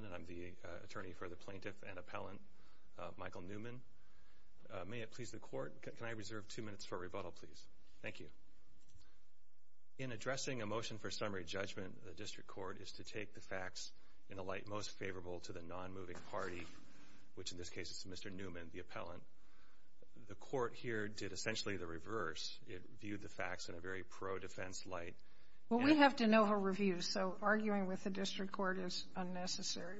and I'm the attorney for the plaintiff and appellant Michael Newman. May it please the court, can I reserve two minutes for rebuttal, please? Thank you. In addressing a motion for summary judgment, the district court is to take the facts in a light most favorable to the non-moving party, which in this case is Mr. Newman, the appellant. The court here did essentially the reverse. It viewed the facts in a very pro-defense light. Well, we have to know her reviews, so arguing with the district court is unnecessary.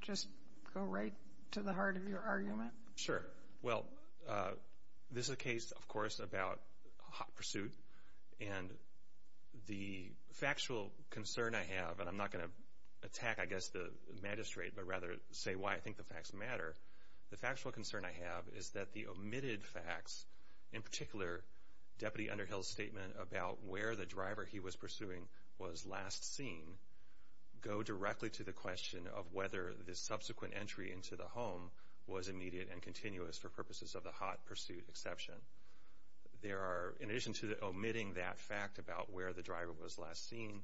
Just go right to the heart of your argument. Sure. Well, this is a case, of course, about hot pursuit. And the factual concern I have, and I'm not going to attack, I guess, the magistrate, but rather say why I think the facts matter. The factual concern I have is that the omitted facts, in particular, Deputy Underhill's statement about where the driver he was pursuing was last seen, go directly to the question of whether the subsequent entry into the home was immediate and continuous for purposes of the hot pursuit exception. In addition to omitting that fact about where the driver was last seen,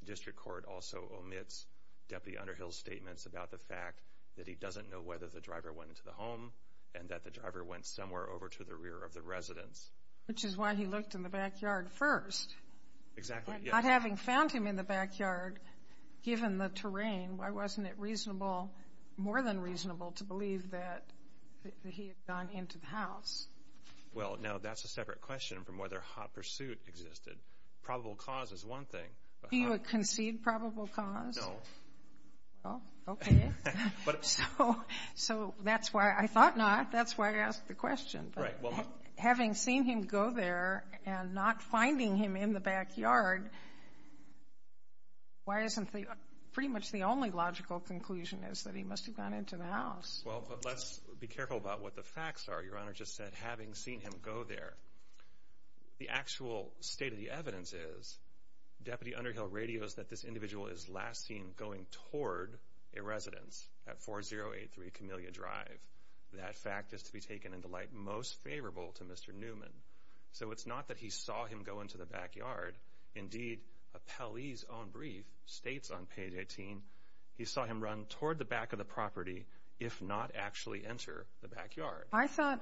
the district court also omits Deputy Underhill's statements about the fact that he doesn't know whether the driver went into the home and that the driver went somewhere over to the rear of the residence. Which is why he looked in the backyard first. Exactly. And not having found him in the backyard, given the terrain, why wasn't it reasonable, more than reasonable, to believe that he had gone into the house? Well, now, that's a separate question from whether hot pursuit existed. Probable cause is one thing. Do you concede probable cause? No. Well, okay. So that's why I thought not. That's why I asked the question. Right. Well, having seen him go there and not finding him in the backyard, why isn't the pretty much the only logical conclusion is that he must have gone into the house? Well, but let's be careful about what the facts are. Your Honor just said, having seen him go there. The actual state of the evidence is Deputy Underhill radios that this individual is last seen going toward a residence at 4083 Camellia Drive. That fact is to be taken into light most favorable to Mr. Newman. So it's not that he saw him go into the backyard. Indeed, Appellee's own brief states on page 18, he saw him run toward the back of the property, if not actually enter the backyard. I thought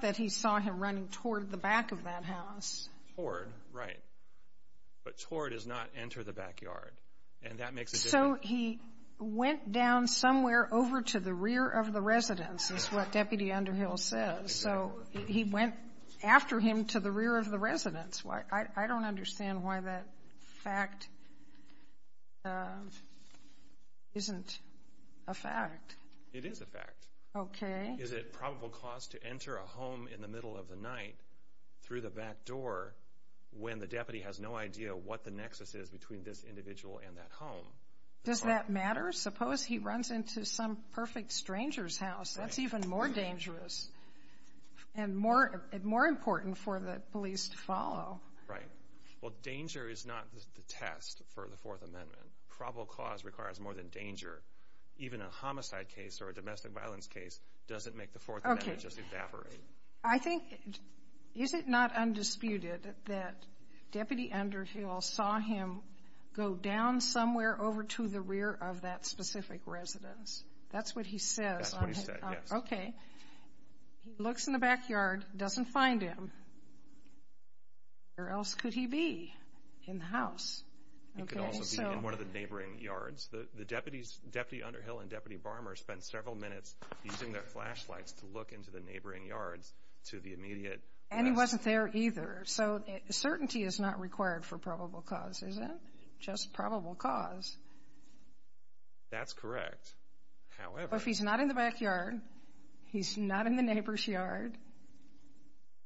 that he saw him running toward the back of that house. Toward, right. But toward is not enter the backyard. And that makes a difference. So he went down somewhere over to the rear of the residence, is what Deputy Underhill says. So he went after him to the rear of the residence. I don't understand why that fact isn't a fact. It is a fact. Okay. Is it probable cause to enter a home in the middle of the night through the back door when the deputy has no idea what the nexus is between this individual and that home? Does that matter? Suppose he runs into some perfect stranger's house. That's even more dangerous and more and more important for the police to follow. Right. Well, danger is not the test for the Fourth Amendment. Probable cause requires more than danger. Even a homicide case or a domestic violence case doesn't make the Fourth Amendment just evaporate. Okay. I think, is it not undisputed that Deputy Underhill saw him go down somewhere over to the rear of that specific residence? That's what he says. That's what he said, yes. Okay. He looks in the backyard, doesn't find him. Where else could he be in the house? He could also be in one of the neighboring yards. The deputies, Deputy Underhill and Deputy Barmer, spent several minutes using their flashlights to look into the neighboring yards to the immediate... And he wasn't there either. So certainty is not required for probable cause, is it? Just probable cause. That's correct. However... He's not in the neighbor's yard,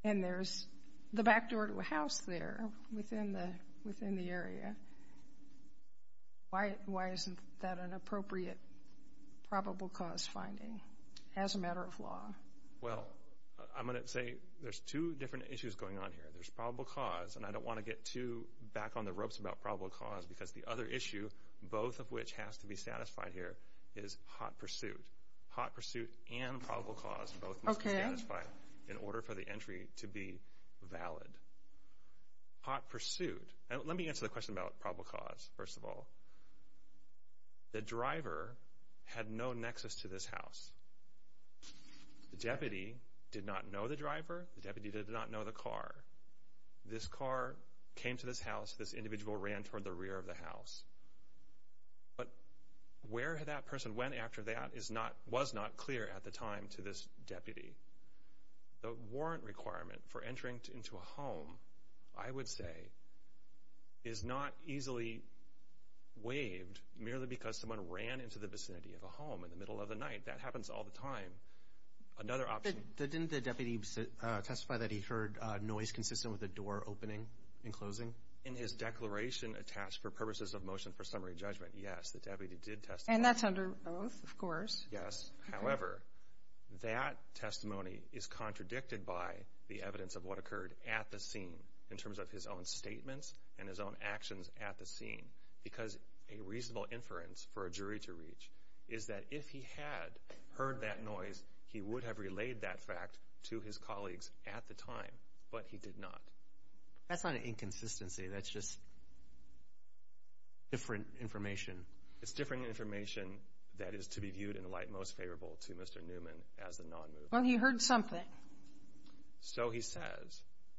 and there's the back door to a house there within the area. Why isn't that an appropriate probable cause finding as a matter of law? Well, I'm going to say there's two different issues going on here. There's probable cause, and I don't want to get too back on the ropes about probable cause because the other issue, both of which has to be satisfied here, is hot pursuit. Hot pursuit and probable cause both must be satisfied in order for the entry to be valid. Hot pursuit. Let me answer the question about probable cause, first of all. The driver had no nexus to this house. The deputy did not know the driver. The deputy did not know the car. This car came to this house. This individual ran toward the rear of the house. But where that person went after that was not clear at the time to this deputy. The warrant requirement for entering into a home, I would say, is not easily waived merely because someone ran into the vicinity of a home in the middle of the night. That happens all the time. Another option... Didn't the deputy testify that he heard noise consistent with the door opening and closing? In his declaration attached for purposes of motion for summary judgment, yes, the deputy did testify. And that's under oath, of course. Yes. However, that testimony is contradicted by the evidence of what occurred at the scene in terms of his own statements and his own actions at the scene because a reasonable inference for a jury to reach is that if he had heard that noise, he would have relayed that fact to his colleagues at the time, but he did not. That's not an inconsistency. That's just different information. It's different information that is to be viewed in the light most favorable to Mr. Newman as the non-mover. Well, he heard something. So he says.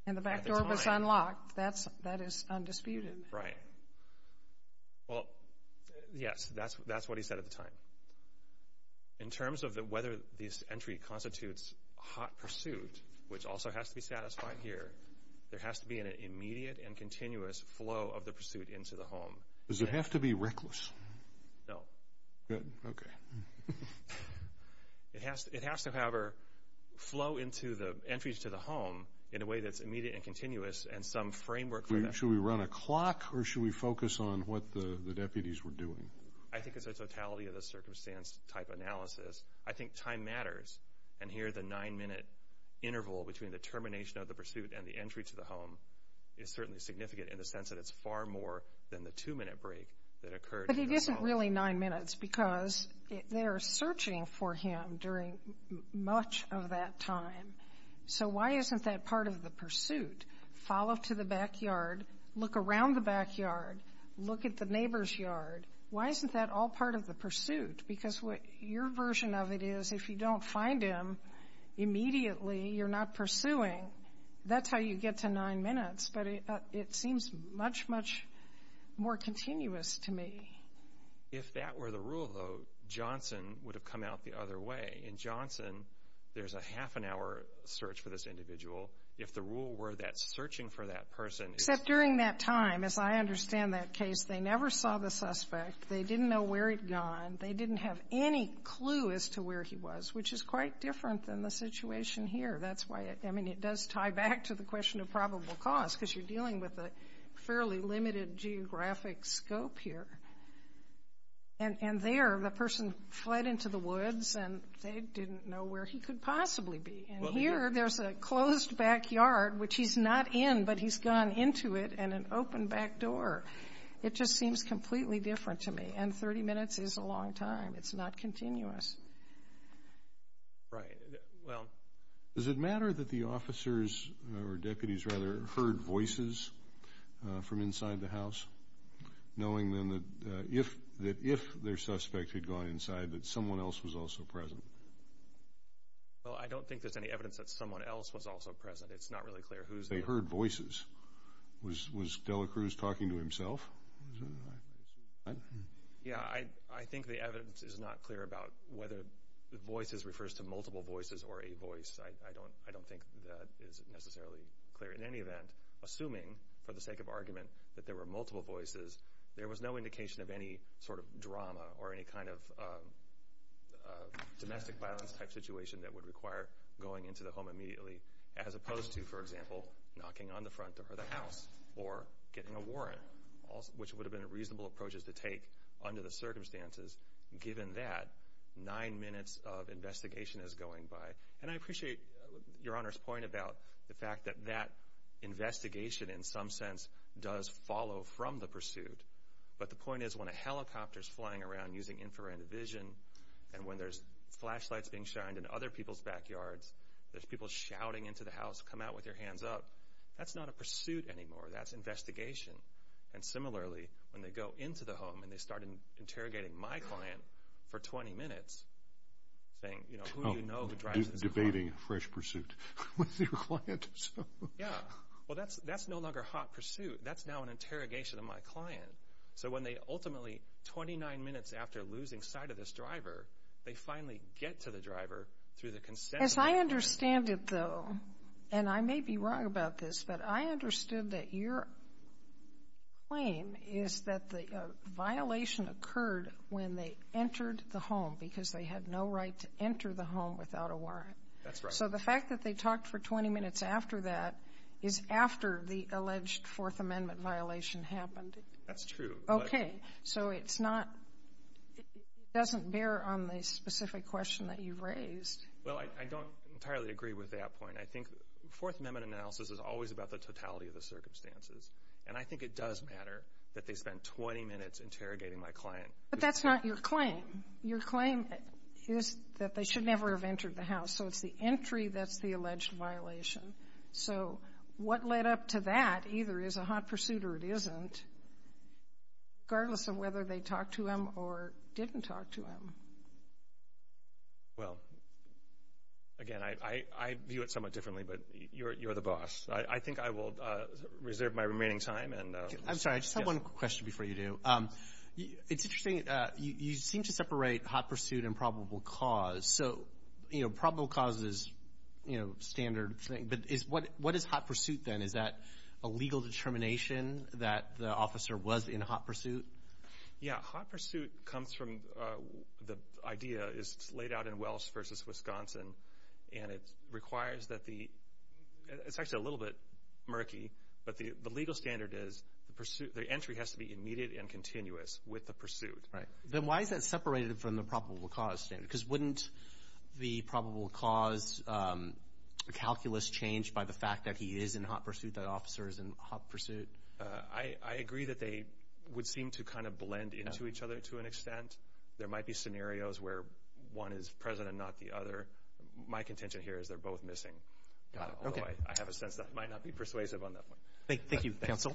And the back door was unlocked. That is undisputed. Right. Well, yes, that's what he said at the time. In terms of whether this entry constitutes hot pursuit, which also has to be satisfied here, there has to be an immediate and continuous flow of the pursuit into the home. Does it have to be reckless? No. Good. Okay. It has to, however, flow into the entries to the home in a way that's immediate and continuous and some framework for that. Should we run a clock or should we focus on what the deputies were doing? I think it's a totality of the circumstance type analysis. I think time matters. And here the nine-minute interval between the termination of the pursuit and the entry to the home is certainly significant in the sense that it's far more than the two-minute break that occurred. But it isn't really nine minutes because they are searching for him during much of that time. So why isn't that part of the pursuit? Follow to the backyard. Look around the backyard. Look at the neighbor's yard. Why isn't that all part of the pursuit? Because what your version of it is, if you don't find him immediately, you're not pursuing. That's how you get to nine minutes. But it seems much, much more continuous to me. If that were the rule, though, Johnson would have come out the other way. In Johnson, there's a half-an-hour search for this individual. If the rule were that searching for that person. Except during that time, as I understand that case, they never saw the suspect. They didn't know where he'd gone. They didn't have any clue as to where he was, which is quite different than the situation here. That's why it does tie back to the question of probable cause because you're dealing with a fairly limited geographic scope here. And there, the person fled into the woods, and they didn't know where he could possibly be. And here, there's a closed backyard, which he's not in, but he's gone into it, and an open back door. It just seems completely different to me. And 30 minutes is a long time. It's not continuous. Right. Well, does it matter that the officers, or deputies, rather, heard voices from inside the house, knowing then that if their suspect had gone inside, that someone else was also present? Well, I don't think there's any evidence that someone else was also present. It's not really clear who's there. They heard voices. Was Dela Cruz talking to himself? Yeah, I think the evidence is not clear about whether voices refers to multiple voices or a voice. I don't think that is necessarily clear. In any event, assuming, for the sake of argument, that there were multiple voices, there was no indication of any sort of drama or any kind of domestic violence-type situation that would require going into the home immediately, as opposed to, for example, knocking on the front door of the house or getting a warrant, which would have been reasonable approaches to take under the circumstances, given that nine minutes of investigation is going by. And I appreciate Your Honor's point about the fact that that investigation, in some sense, does follow from the pursuit. But the point is, when a helicopter is flying around using infrared vision and when there's flashlights being shined in other people's backyards, there's people shouting into the house, come out with your hands up, that's not a pursuit anymore, that's investigation. And similarly, when they go into the home and they start interrogating my client for 20 minutes, saying, you know, who do you know who drives this car? Oh, debating fresh pursuit with your client. Yeah. Well, that's no longer hot pursuit. That's now an interrogation of my client. So when they ultimately, 29 minutes after losing sight of this driver, they finally get to the driver through the consent of the driver. As I understand it, though, and I may be wrong about this, but I understood that your claim is that the violation occurred when they entered the home because they had no right to enter the home without a warrant. That's right. So the fact that they talked for 20 minutes after that is after the alleged Fourth Amendment violation happened. That's true. Okay. So it's not, it doesn't bear on the specific question that you've raised. Well, I don't entirely agree with that point. I think Fourth Amendment analysis is always about the totality of the circumstances, and I think it does matter that they spent 20 minutes interrogating my client. But that's not your claim. Your claim is that they should never have entered the house. So it's the entry that's the alleged violation. So what led up to that either is a hot pursuit or it isn't, regardless of whether they talked to him or didn't talk to him. Well, again, I view it somewhat differently, but you're the boss. I think I will reserve my remaining time. I'm sorry, I just have one question before you do. It's interesting, you seem to separate hot pursuit and probable cause. So, you know, probable cause is, you know, standard thing. But what is hot pursuit then? Is that a legal determination that the officer was in a hot pursuit? Yeah, hot pursuit comes from the idea, it's laid out in Welch v. Wisconsin, and it requires that the, it's actually a little bit murky, but the legal standard is the entry has to be immediate and continuous with the pursuit. Then why is that separated from the probable cause standard? Because wouldn't the probable cause calculus change by the fact that he is in hot pursuit, that officer is in hot pursuit? I agree that they would seem to kind of blend into each other to an extent. There might be scenarios where one is present and not the other. My contention here is they're both missing. Got it. Okay. Although I have a sense that might not be persuasive on that one. Thank you, counsel.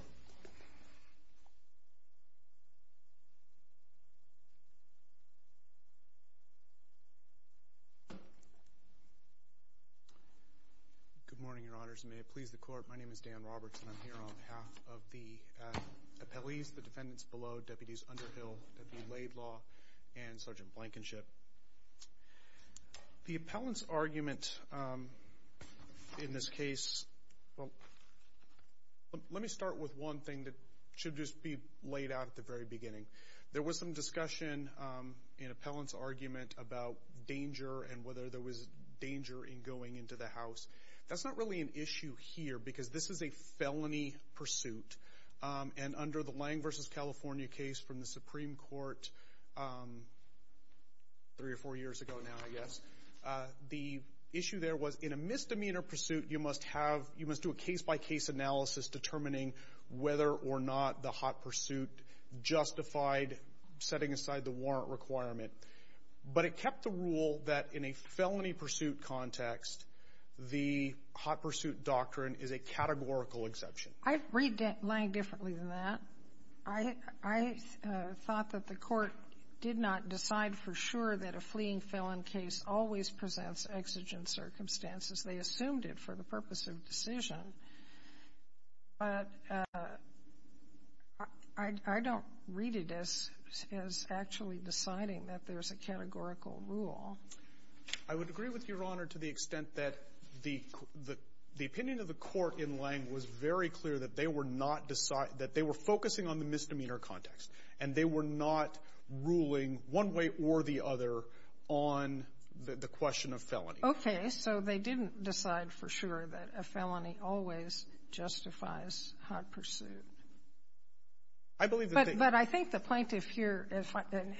Good morning, Your Honors. May it please the Court, my name is Dan Roberts, and I'm here on behalf of the appellees, the defendants below, Deputies Underhill, Deputy Laidlaw, and Sergeant Blankenship. The appellant's argument in this case, well, let me start with one thing that should just be laid out at the very beginning. There was some discussion in appellant's argument about danger and whether there was danger in going into the house. That's not really an issue here because this is a felony pursuit. And under the Lang v. California case from the Supreme Court three or four years ago now, I guess, the issue there was in a misdemeanor pursuit you must do a case-by-case analysis determining whether or not the hot pursuit justified setting aside the warrant requirement. But it kept the rule that in a felony pursuit context, the hot pursuit doctrine is a categorical exception. I read Lang differently than that. I thought that the Court did not decide for sure that a fleeing felon case always presents exigent circumstances. They assumed it for the purpose of decision. But I don't read it as actually deciding that there's a categorical rule. I would agree with Your Honor to the extent that the opinion of the Court in Lang was very clear that they were focusing on the misdemeanor context, and they were not ruling one way or the other on the question of felony. Okay, so they didn't decide for sure that a felony always justifies hot pursuit. But I think the plaintiff here,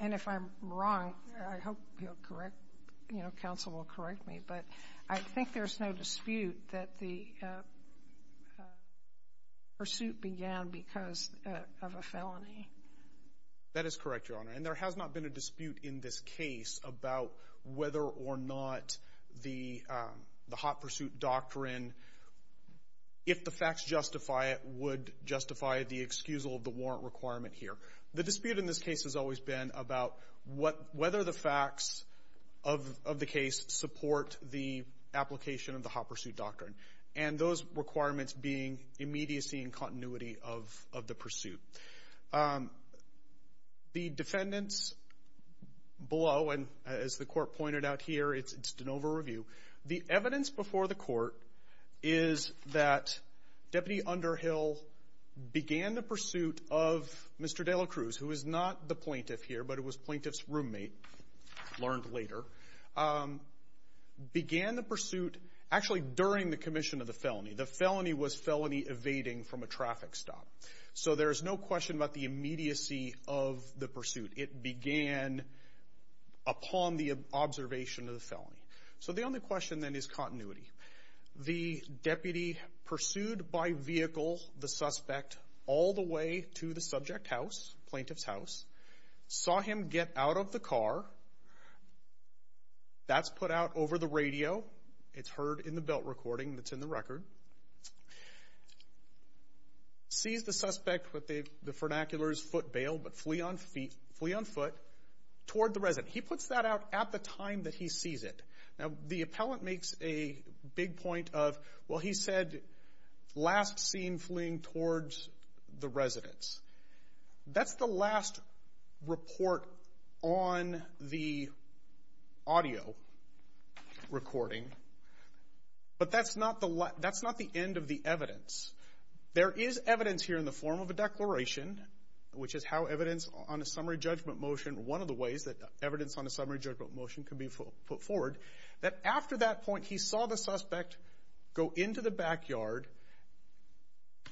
and if I'm wrong, I hope you'll correct, you know, counsel will correct me, but I think there's no dispute that the pursuit began because of a felony. That is correct, Your Honor. And there has not been a dispute in this case about whether or not the hot pursuit doctrine, if the facts justify it, would justify the excusal of the warrant requirement here. The dispute in this case has always been about whether the facts of the case support the application of the hot pursuit doctrine, and those requirements being immediacy and continuity of the pursuit. The defendants below, and as the Court pointed out here, it's just an over-review. The evidence before the Court is that Deputy Underhill began the pursuit of Mr. De La Cruz, who is not the plaintiff here, but it was plaintiff's roommate, learned later, began the pursuit actually during the commission of the felony. The felony was felony evading from a traffic stop. So there is no question about the immediacy of the pursuit. It began upon the observation of the felony. So the only question, then, is continuity. The deputy pursued by vehicle the suspect all the way to the subject house, plaintiff's house, saw him get out of the car. That's put out over the radio. It's heard in the belt recording that's in the record. De La Cruz sees the suspect with the vernacular foot bail, but flee on foot toward the resident. He puts that out at the time that he sees it. Now, the appellant makes a big point of, well, he said, last seen fleeing towards the residence. That's the last report on the audio recording. But that's not the end of the evidence. There is evidence here in the form of a declaration, which is how evidence on a summary judgment motion, one of the ways that evidence on a summary judgment motion can be put forward, that after that point he saw the suspect go into the backyard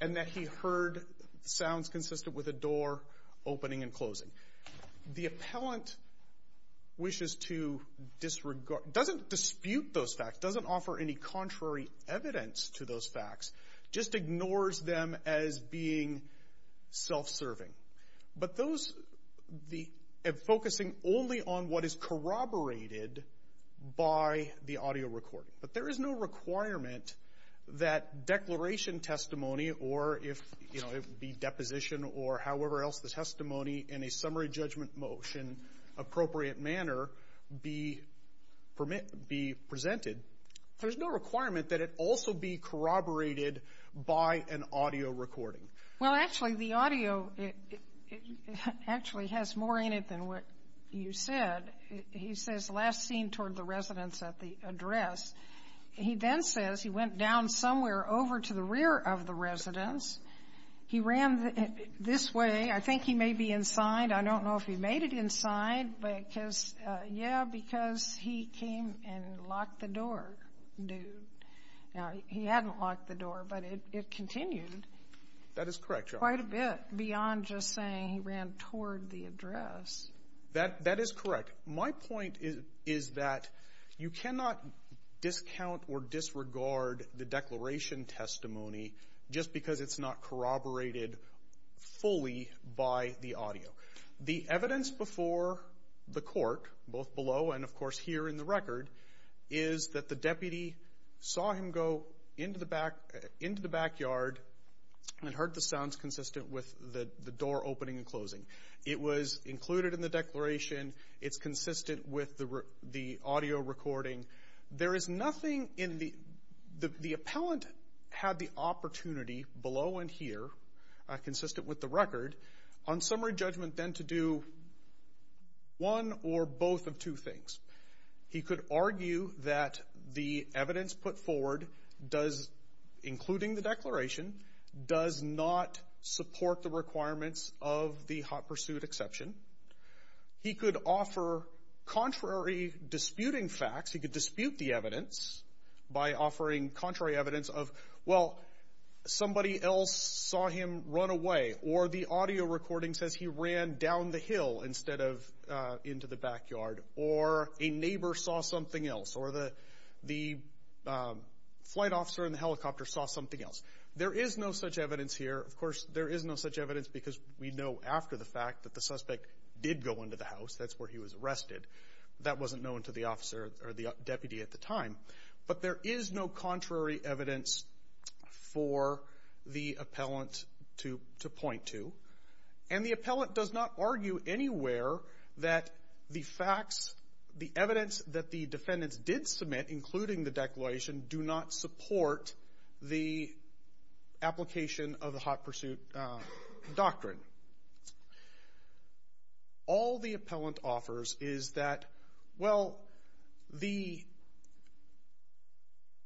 and that he heard sounds consistent with a door opening and closing. The appellant wishes to disregard, doesn't dispute those facts, doesn't offer any contrary evidence to those facts, just ignores them as being self-serving. But those, focusing only on what is corroborated by the audio recording. But there is no requirement that declaration testimony or if, you know, it would be deposition or however else the testimony in a summary judgment motion appropriate manner be presented, there's no requirement that it also be corroborated by an audio recording. Well, actually, the audio actually has more in it than what you said. He says last seen toward the residence at the address. He then says he went down somewhere over to the rear of the residence. He ran this way. I think he may be inside. I don't know if he made it inside. But because, yeah, because he came and locked the door, dude. Now, he hadn't locked the door, but it continued. That is correct, Your Honor. Quite a bit beyond just saying he ran toward the address. That is correct. My point is that you cannot discount or disregard the declaration testimony just because it's not corroborated fully by the audio. The evidence before the court, both below and, of course, here in the record, is that the deputy saw him go into the backyard and heard the sounds consistent with the door opening and closing. It was included in the declaration. It's consistent with the audio recording. There is nothing in the appellant had the opportunity below and here, consistent with the record, on summary judgment then to do one or both of two things. He could argue that the evidence put forward does, including the declaration, does not support the requirements of the hot pursuit exception. He could offer contrary disputing facts. He could dispute the evidence by offering contrary evidence of, well, somebody else saw him run away, or the audio recording says he ran down the hill instead of into the backyard, or a neighbor saw something else, or the flight officer in the helicopter saw something else. There is no such evidence here. Of course, there is no such evidence because we know after the fact that the suspect did go into the house. That's where he was arrested. That wasn't known to the officer or the deputy at the time. But there is no contrary evidence for the appellant to point to. And the appellant does not argue anywhere that the facts, the evidence that the defendants did submit, including the declaration, do not support the application of the hot pursuit doctrine. All the appellant offers is that, well,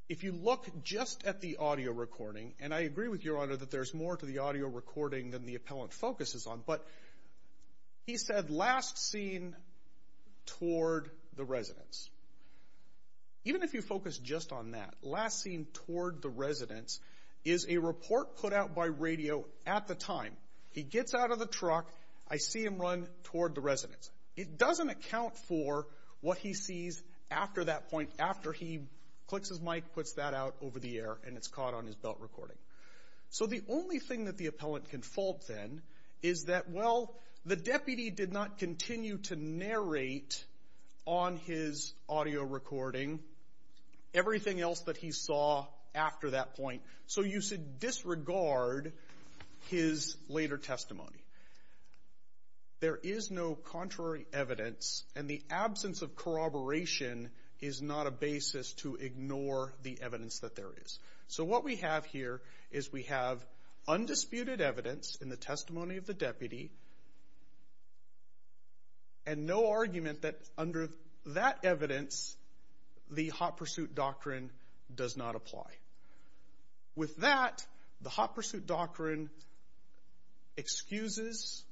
if you look just at the audio recording, and I agree with Your Honor that there's more to the audio recording than the appellant focuses on, but he said last seen toward the residence. Even if you focus just on that, last seen toward the residence is a report put out by radio at the time. He gets out of the truck. I see him run toward the residence. It doesn't account for what he sees after that point, after he clicks his mic, puts that out over the air, and it's caught on his belt recording. So the only thing that the appellant can fault then is that, well, the deputy did not continue to narrate on his audio recording everything else that he saw after that point. So you should disregard his later testimony. There is no contrary evidence, and the absence of corroboration is not a basis to ignore the evidence that there is. So what we have here is we have undisputed evidence in the testimony of the deputy and no argument that under that evidence the hot pursuit doctrine does not apply. With that, the hot pursuit doctrine excuses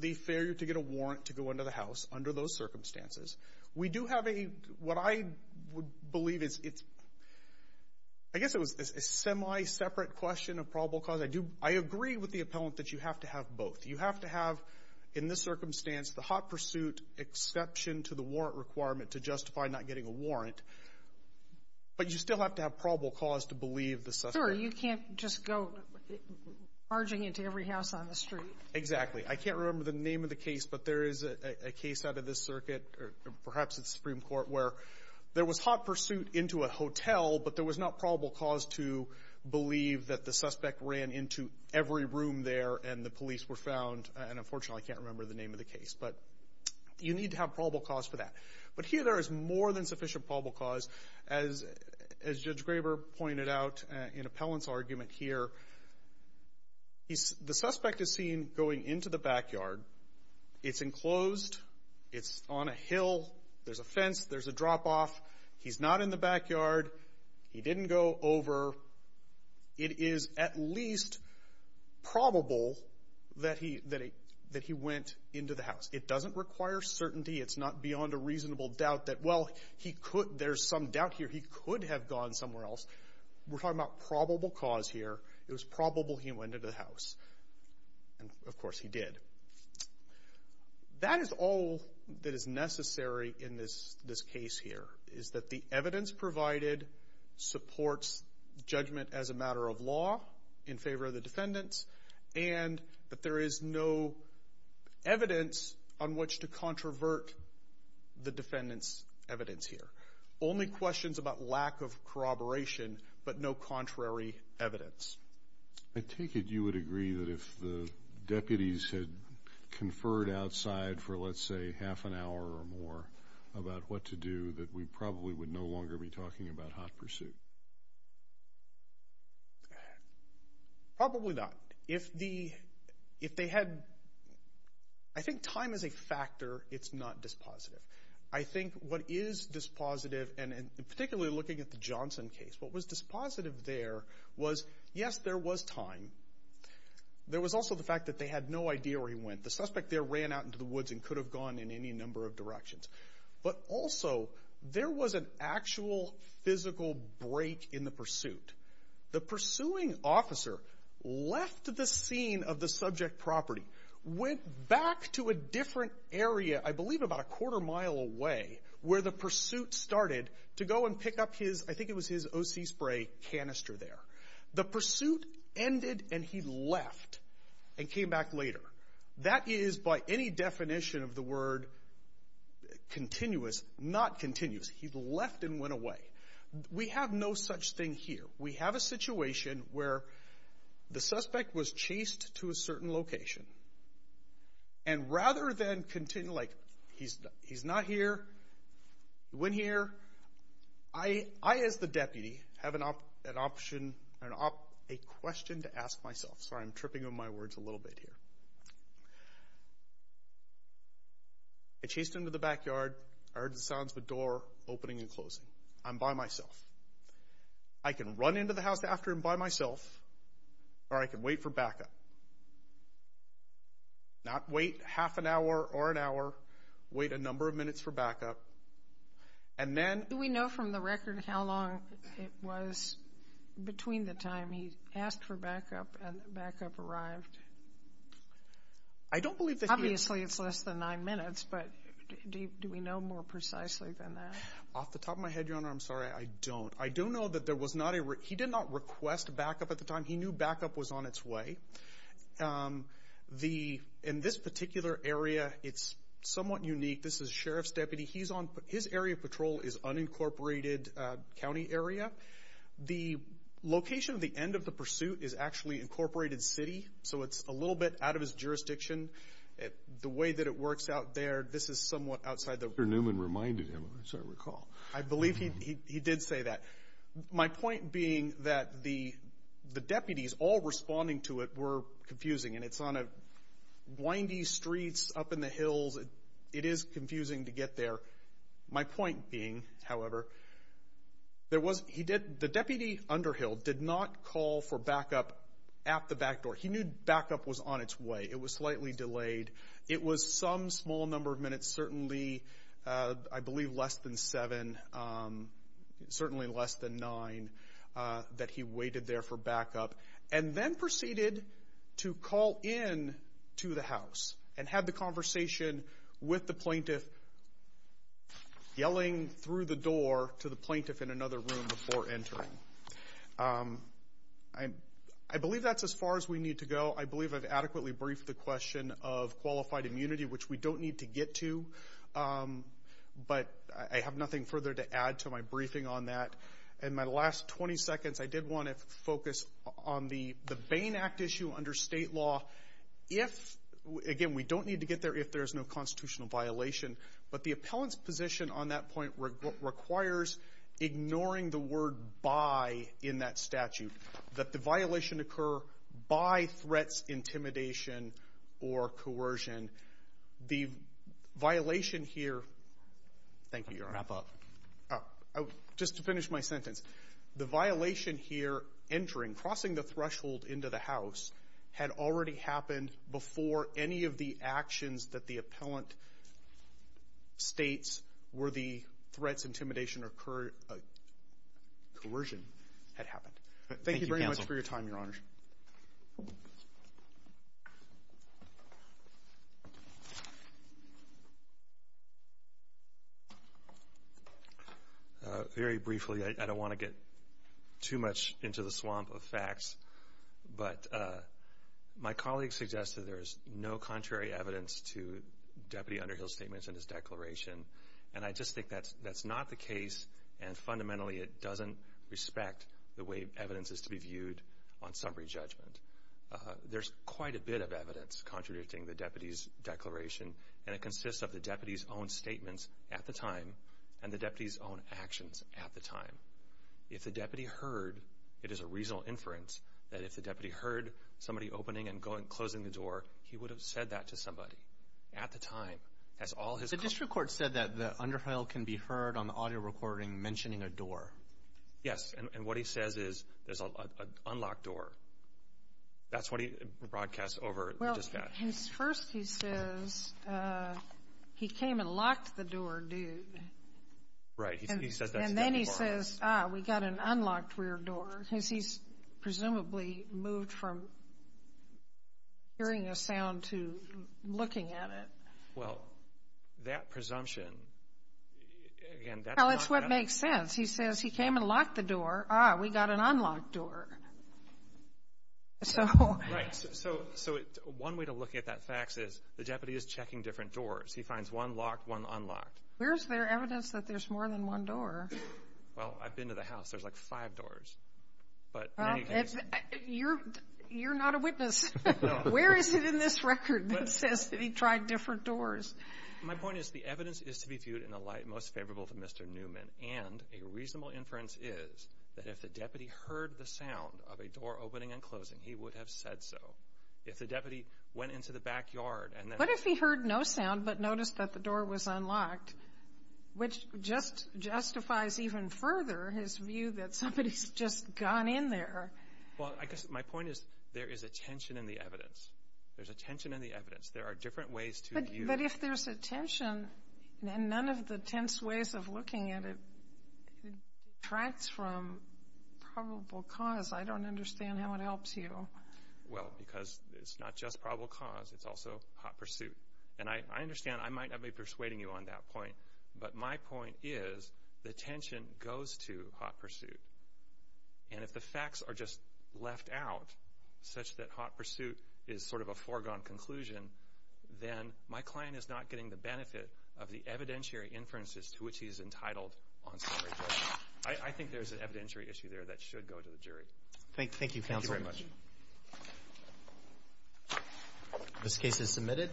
the failure to get a warrant to go into the house under those circumstances. We do have a, what I would believe is it's, I guess it was a semi-separate question of probable cause. I agree with the appellant that you have to have both. You have to have in this circumstance the hot pursuit exception to the warrant requirement to justify not getting a warrant, but you still have to have probable cause to believe the suspect. Sure. You can't just go barging into every house on the street. Exactly. I can't remember the name of the case, but there is a case out of this circuit, or perhaps it's the Supreme Court, where there was hot pursuit into a hotel, but there was not probable cause to believe that the suspect ran into every room there and the police were found. And unfortunately, I can't remember the name of the case. But you need to have probable cause for that. But here there is more than sufficient probable cause. As Judge Graber pointed out in appellant's argument here, the suspect is seen going into the backyard. It's enclosed. It's on a hill. There's a fence. There's a drop-off. He's not in the backyard. He didn't go over. It is at least probable that he went into the house. It doesn't require certainty. It's not beyond a reasonable doubt that, well, there's some doubt here he could have gone somewhere else. We're talking about probable cause here. It was probable he went into the house. And, of course, he did. That is all that is necessary in this case here, is that the evidence provided supports judgment as a matter of law in favor of the defendants and that there is no evidence on which to controvert the defendant's evidence here. Only questions about lack of corroboration but no contrary evidence. I take it you would agree that if the deputies had conferred outside for, let's say, half an hour or more about what to do, that we probably would no longer be talking about hot pursuit. Probably not. If they had, I think time is a factor. It's not dispositive. I think what is dispositive, and particularly looking at the Johnson case, what was dispositive there was, yes, there was time. There was also the fact that they had no idea where he went. The suspect there ran out into the woods and could have gone in any number of directions. But also there was an actual physical break in the pursuit. The pursuing officer left the scene of the subject property, went back to a different area, I believe about a quarter mile away, where the pursuit started to go and pick up his, I think it was his O.C. spray canister there. The pursuit ended and he left and came back later. That is by any definition of the word continuous, not continuous. He left and went away. We have no such thing here. We have a situation where the suspect was chased to a certain location. And rather than continue, like, he's not here, he went here. I, as the deputy, have an option, a question to ask myself. Sorry, I'm tripping on my words a little bit here. I chased him to the backyard. I heard the sounds of a door opening and closing. I'm by myself. I can run into the house after him by myself or I can wait for backup. Not wait half an hour or an hour. Wait a number of minutes for backup. Do we know from the record how long it was between the time he asked for backup and the backup arrived? Obviously it's less than nine minutes, but do we know more precisely than that? Off the top of my head, Your Honor, I'm sorry, I don't. I do know that there was not a real – he did not request backup at the time. He knew backup was on its way. In this particular area, it's somewhat unique. This is Sheriff's deputy. His area of patrol is unincorporated county area. The location of the end of the pursuit is actually incorporated city, so it's a little bit out of his jurisdiction. The way that it works out there, this is somewhat outside the – Dr. Newman reminded him, as I recall. I believe he did say that. My point being that the deputies all responding to it were confusing, and it's on windy streets up in the hills. It is confusing to get there. My point being, however, the deputy under Hill did not call for backup at the back door. He knew backup was on its way. It was slightly delayed. It was some small number of minutes, certainly, I believe, less than seven, certainly less than nine that he waited there for backup, and then proceeded to call in to the house and have the conversation with the plaintiff yelling through the door to the plaintiff in another room before entering. I believe that's as far as we need to go. I believe I've adequately briefed the question of qualified immunity, which we don't need to get to, but I have nothing further to add to my briefing on that. In my last 20 seconds, I did want to focus on the Bain Act issue under state law. Again, we don't need to get there if there's no constitutional violation, but the appellant's position on that point requires ignoring the word by in that statute, that the violation occur by threats, intimidation, or coercion. The violation here, thank you, Your Honor. Wrap up. Just to finish my sentence. The violation here entering, crossing the threshold into the house, had already happened before any of the actions that the appellant states were the threats, intimidation, or coercion had happened. Thank you very much for your time, Your Honor. Very briefly, I don't want to get too much into the swamp of facts, but my colleagues suggest that there is no contrary evidence to Deputy Underhill's statements in his declaration, and I just think that's not the case, and fundamentally it doesn't respect the way evidence is to be viewed on summary judgment. There's quite a bit of evidence contradicting the deputy's declaration, and it consists of the deputy's own statements at the time and the deputy's own actions at the time. If the deputy heard, it is a reasonable inference, that if the deputy heard somebody opening and closing the door, he would have said that to somebody at the time. The district court said that the underhill can be heard on the audio recording mentioning a door. Yes, and what he says is there's an unlocked door. That's what he broadcasts over just that. Well, first he says he came and locked the door, dude. Right. And then he says, ah, we got an unlocked rear door, because he's presumably moved from hearing a sound to looking at it. Well, that presumption, again, that's not going to help. Well, it's what makes sense. He says he came and locked the door. Ah, we got an unlocked door. Right. So one way to look at that fax is the deputy is checking different doors. He finds one locked, one unlocked. Where is there evidence that there's more than one door? Well, I've been to the house. There's, like, five doors. You're not a witness. Where is it in this record that says that he tried different doors? My point is the evidence is to be viewed in a light most favorable to Mr. Newman, and a reasonable inference is that if the deputy heard the sound of a door opening and closing, he would have said so. If the deputy went into the backyard and then ---- Which justifies even further his view that somebody's just gone in there. Well, I guess my point is there is a tension in the evidence. There's a tension in the evidence. There are different ways to view it. But if there's a tension, then none of the tense ways of looking at it detracts from probable cause. I don't understand how it helps you. Well, because it's not just probable cause. It's also hot pursuit. And I understand I might not be persuading you on that point, but my point is the tension goes to hot pursuit. And if the facts are just left out such that hot pursuit is sort of a foregone conclusion, then my client is not getting the benefit of the evidentiary inferences to which he's entitled on summary judgment. I think there's an evidentiary issue there that should go to the jury. Thank you, counsel. Thank you very much. This case is submitted.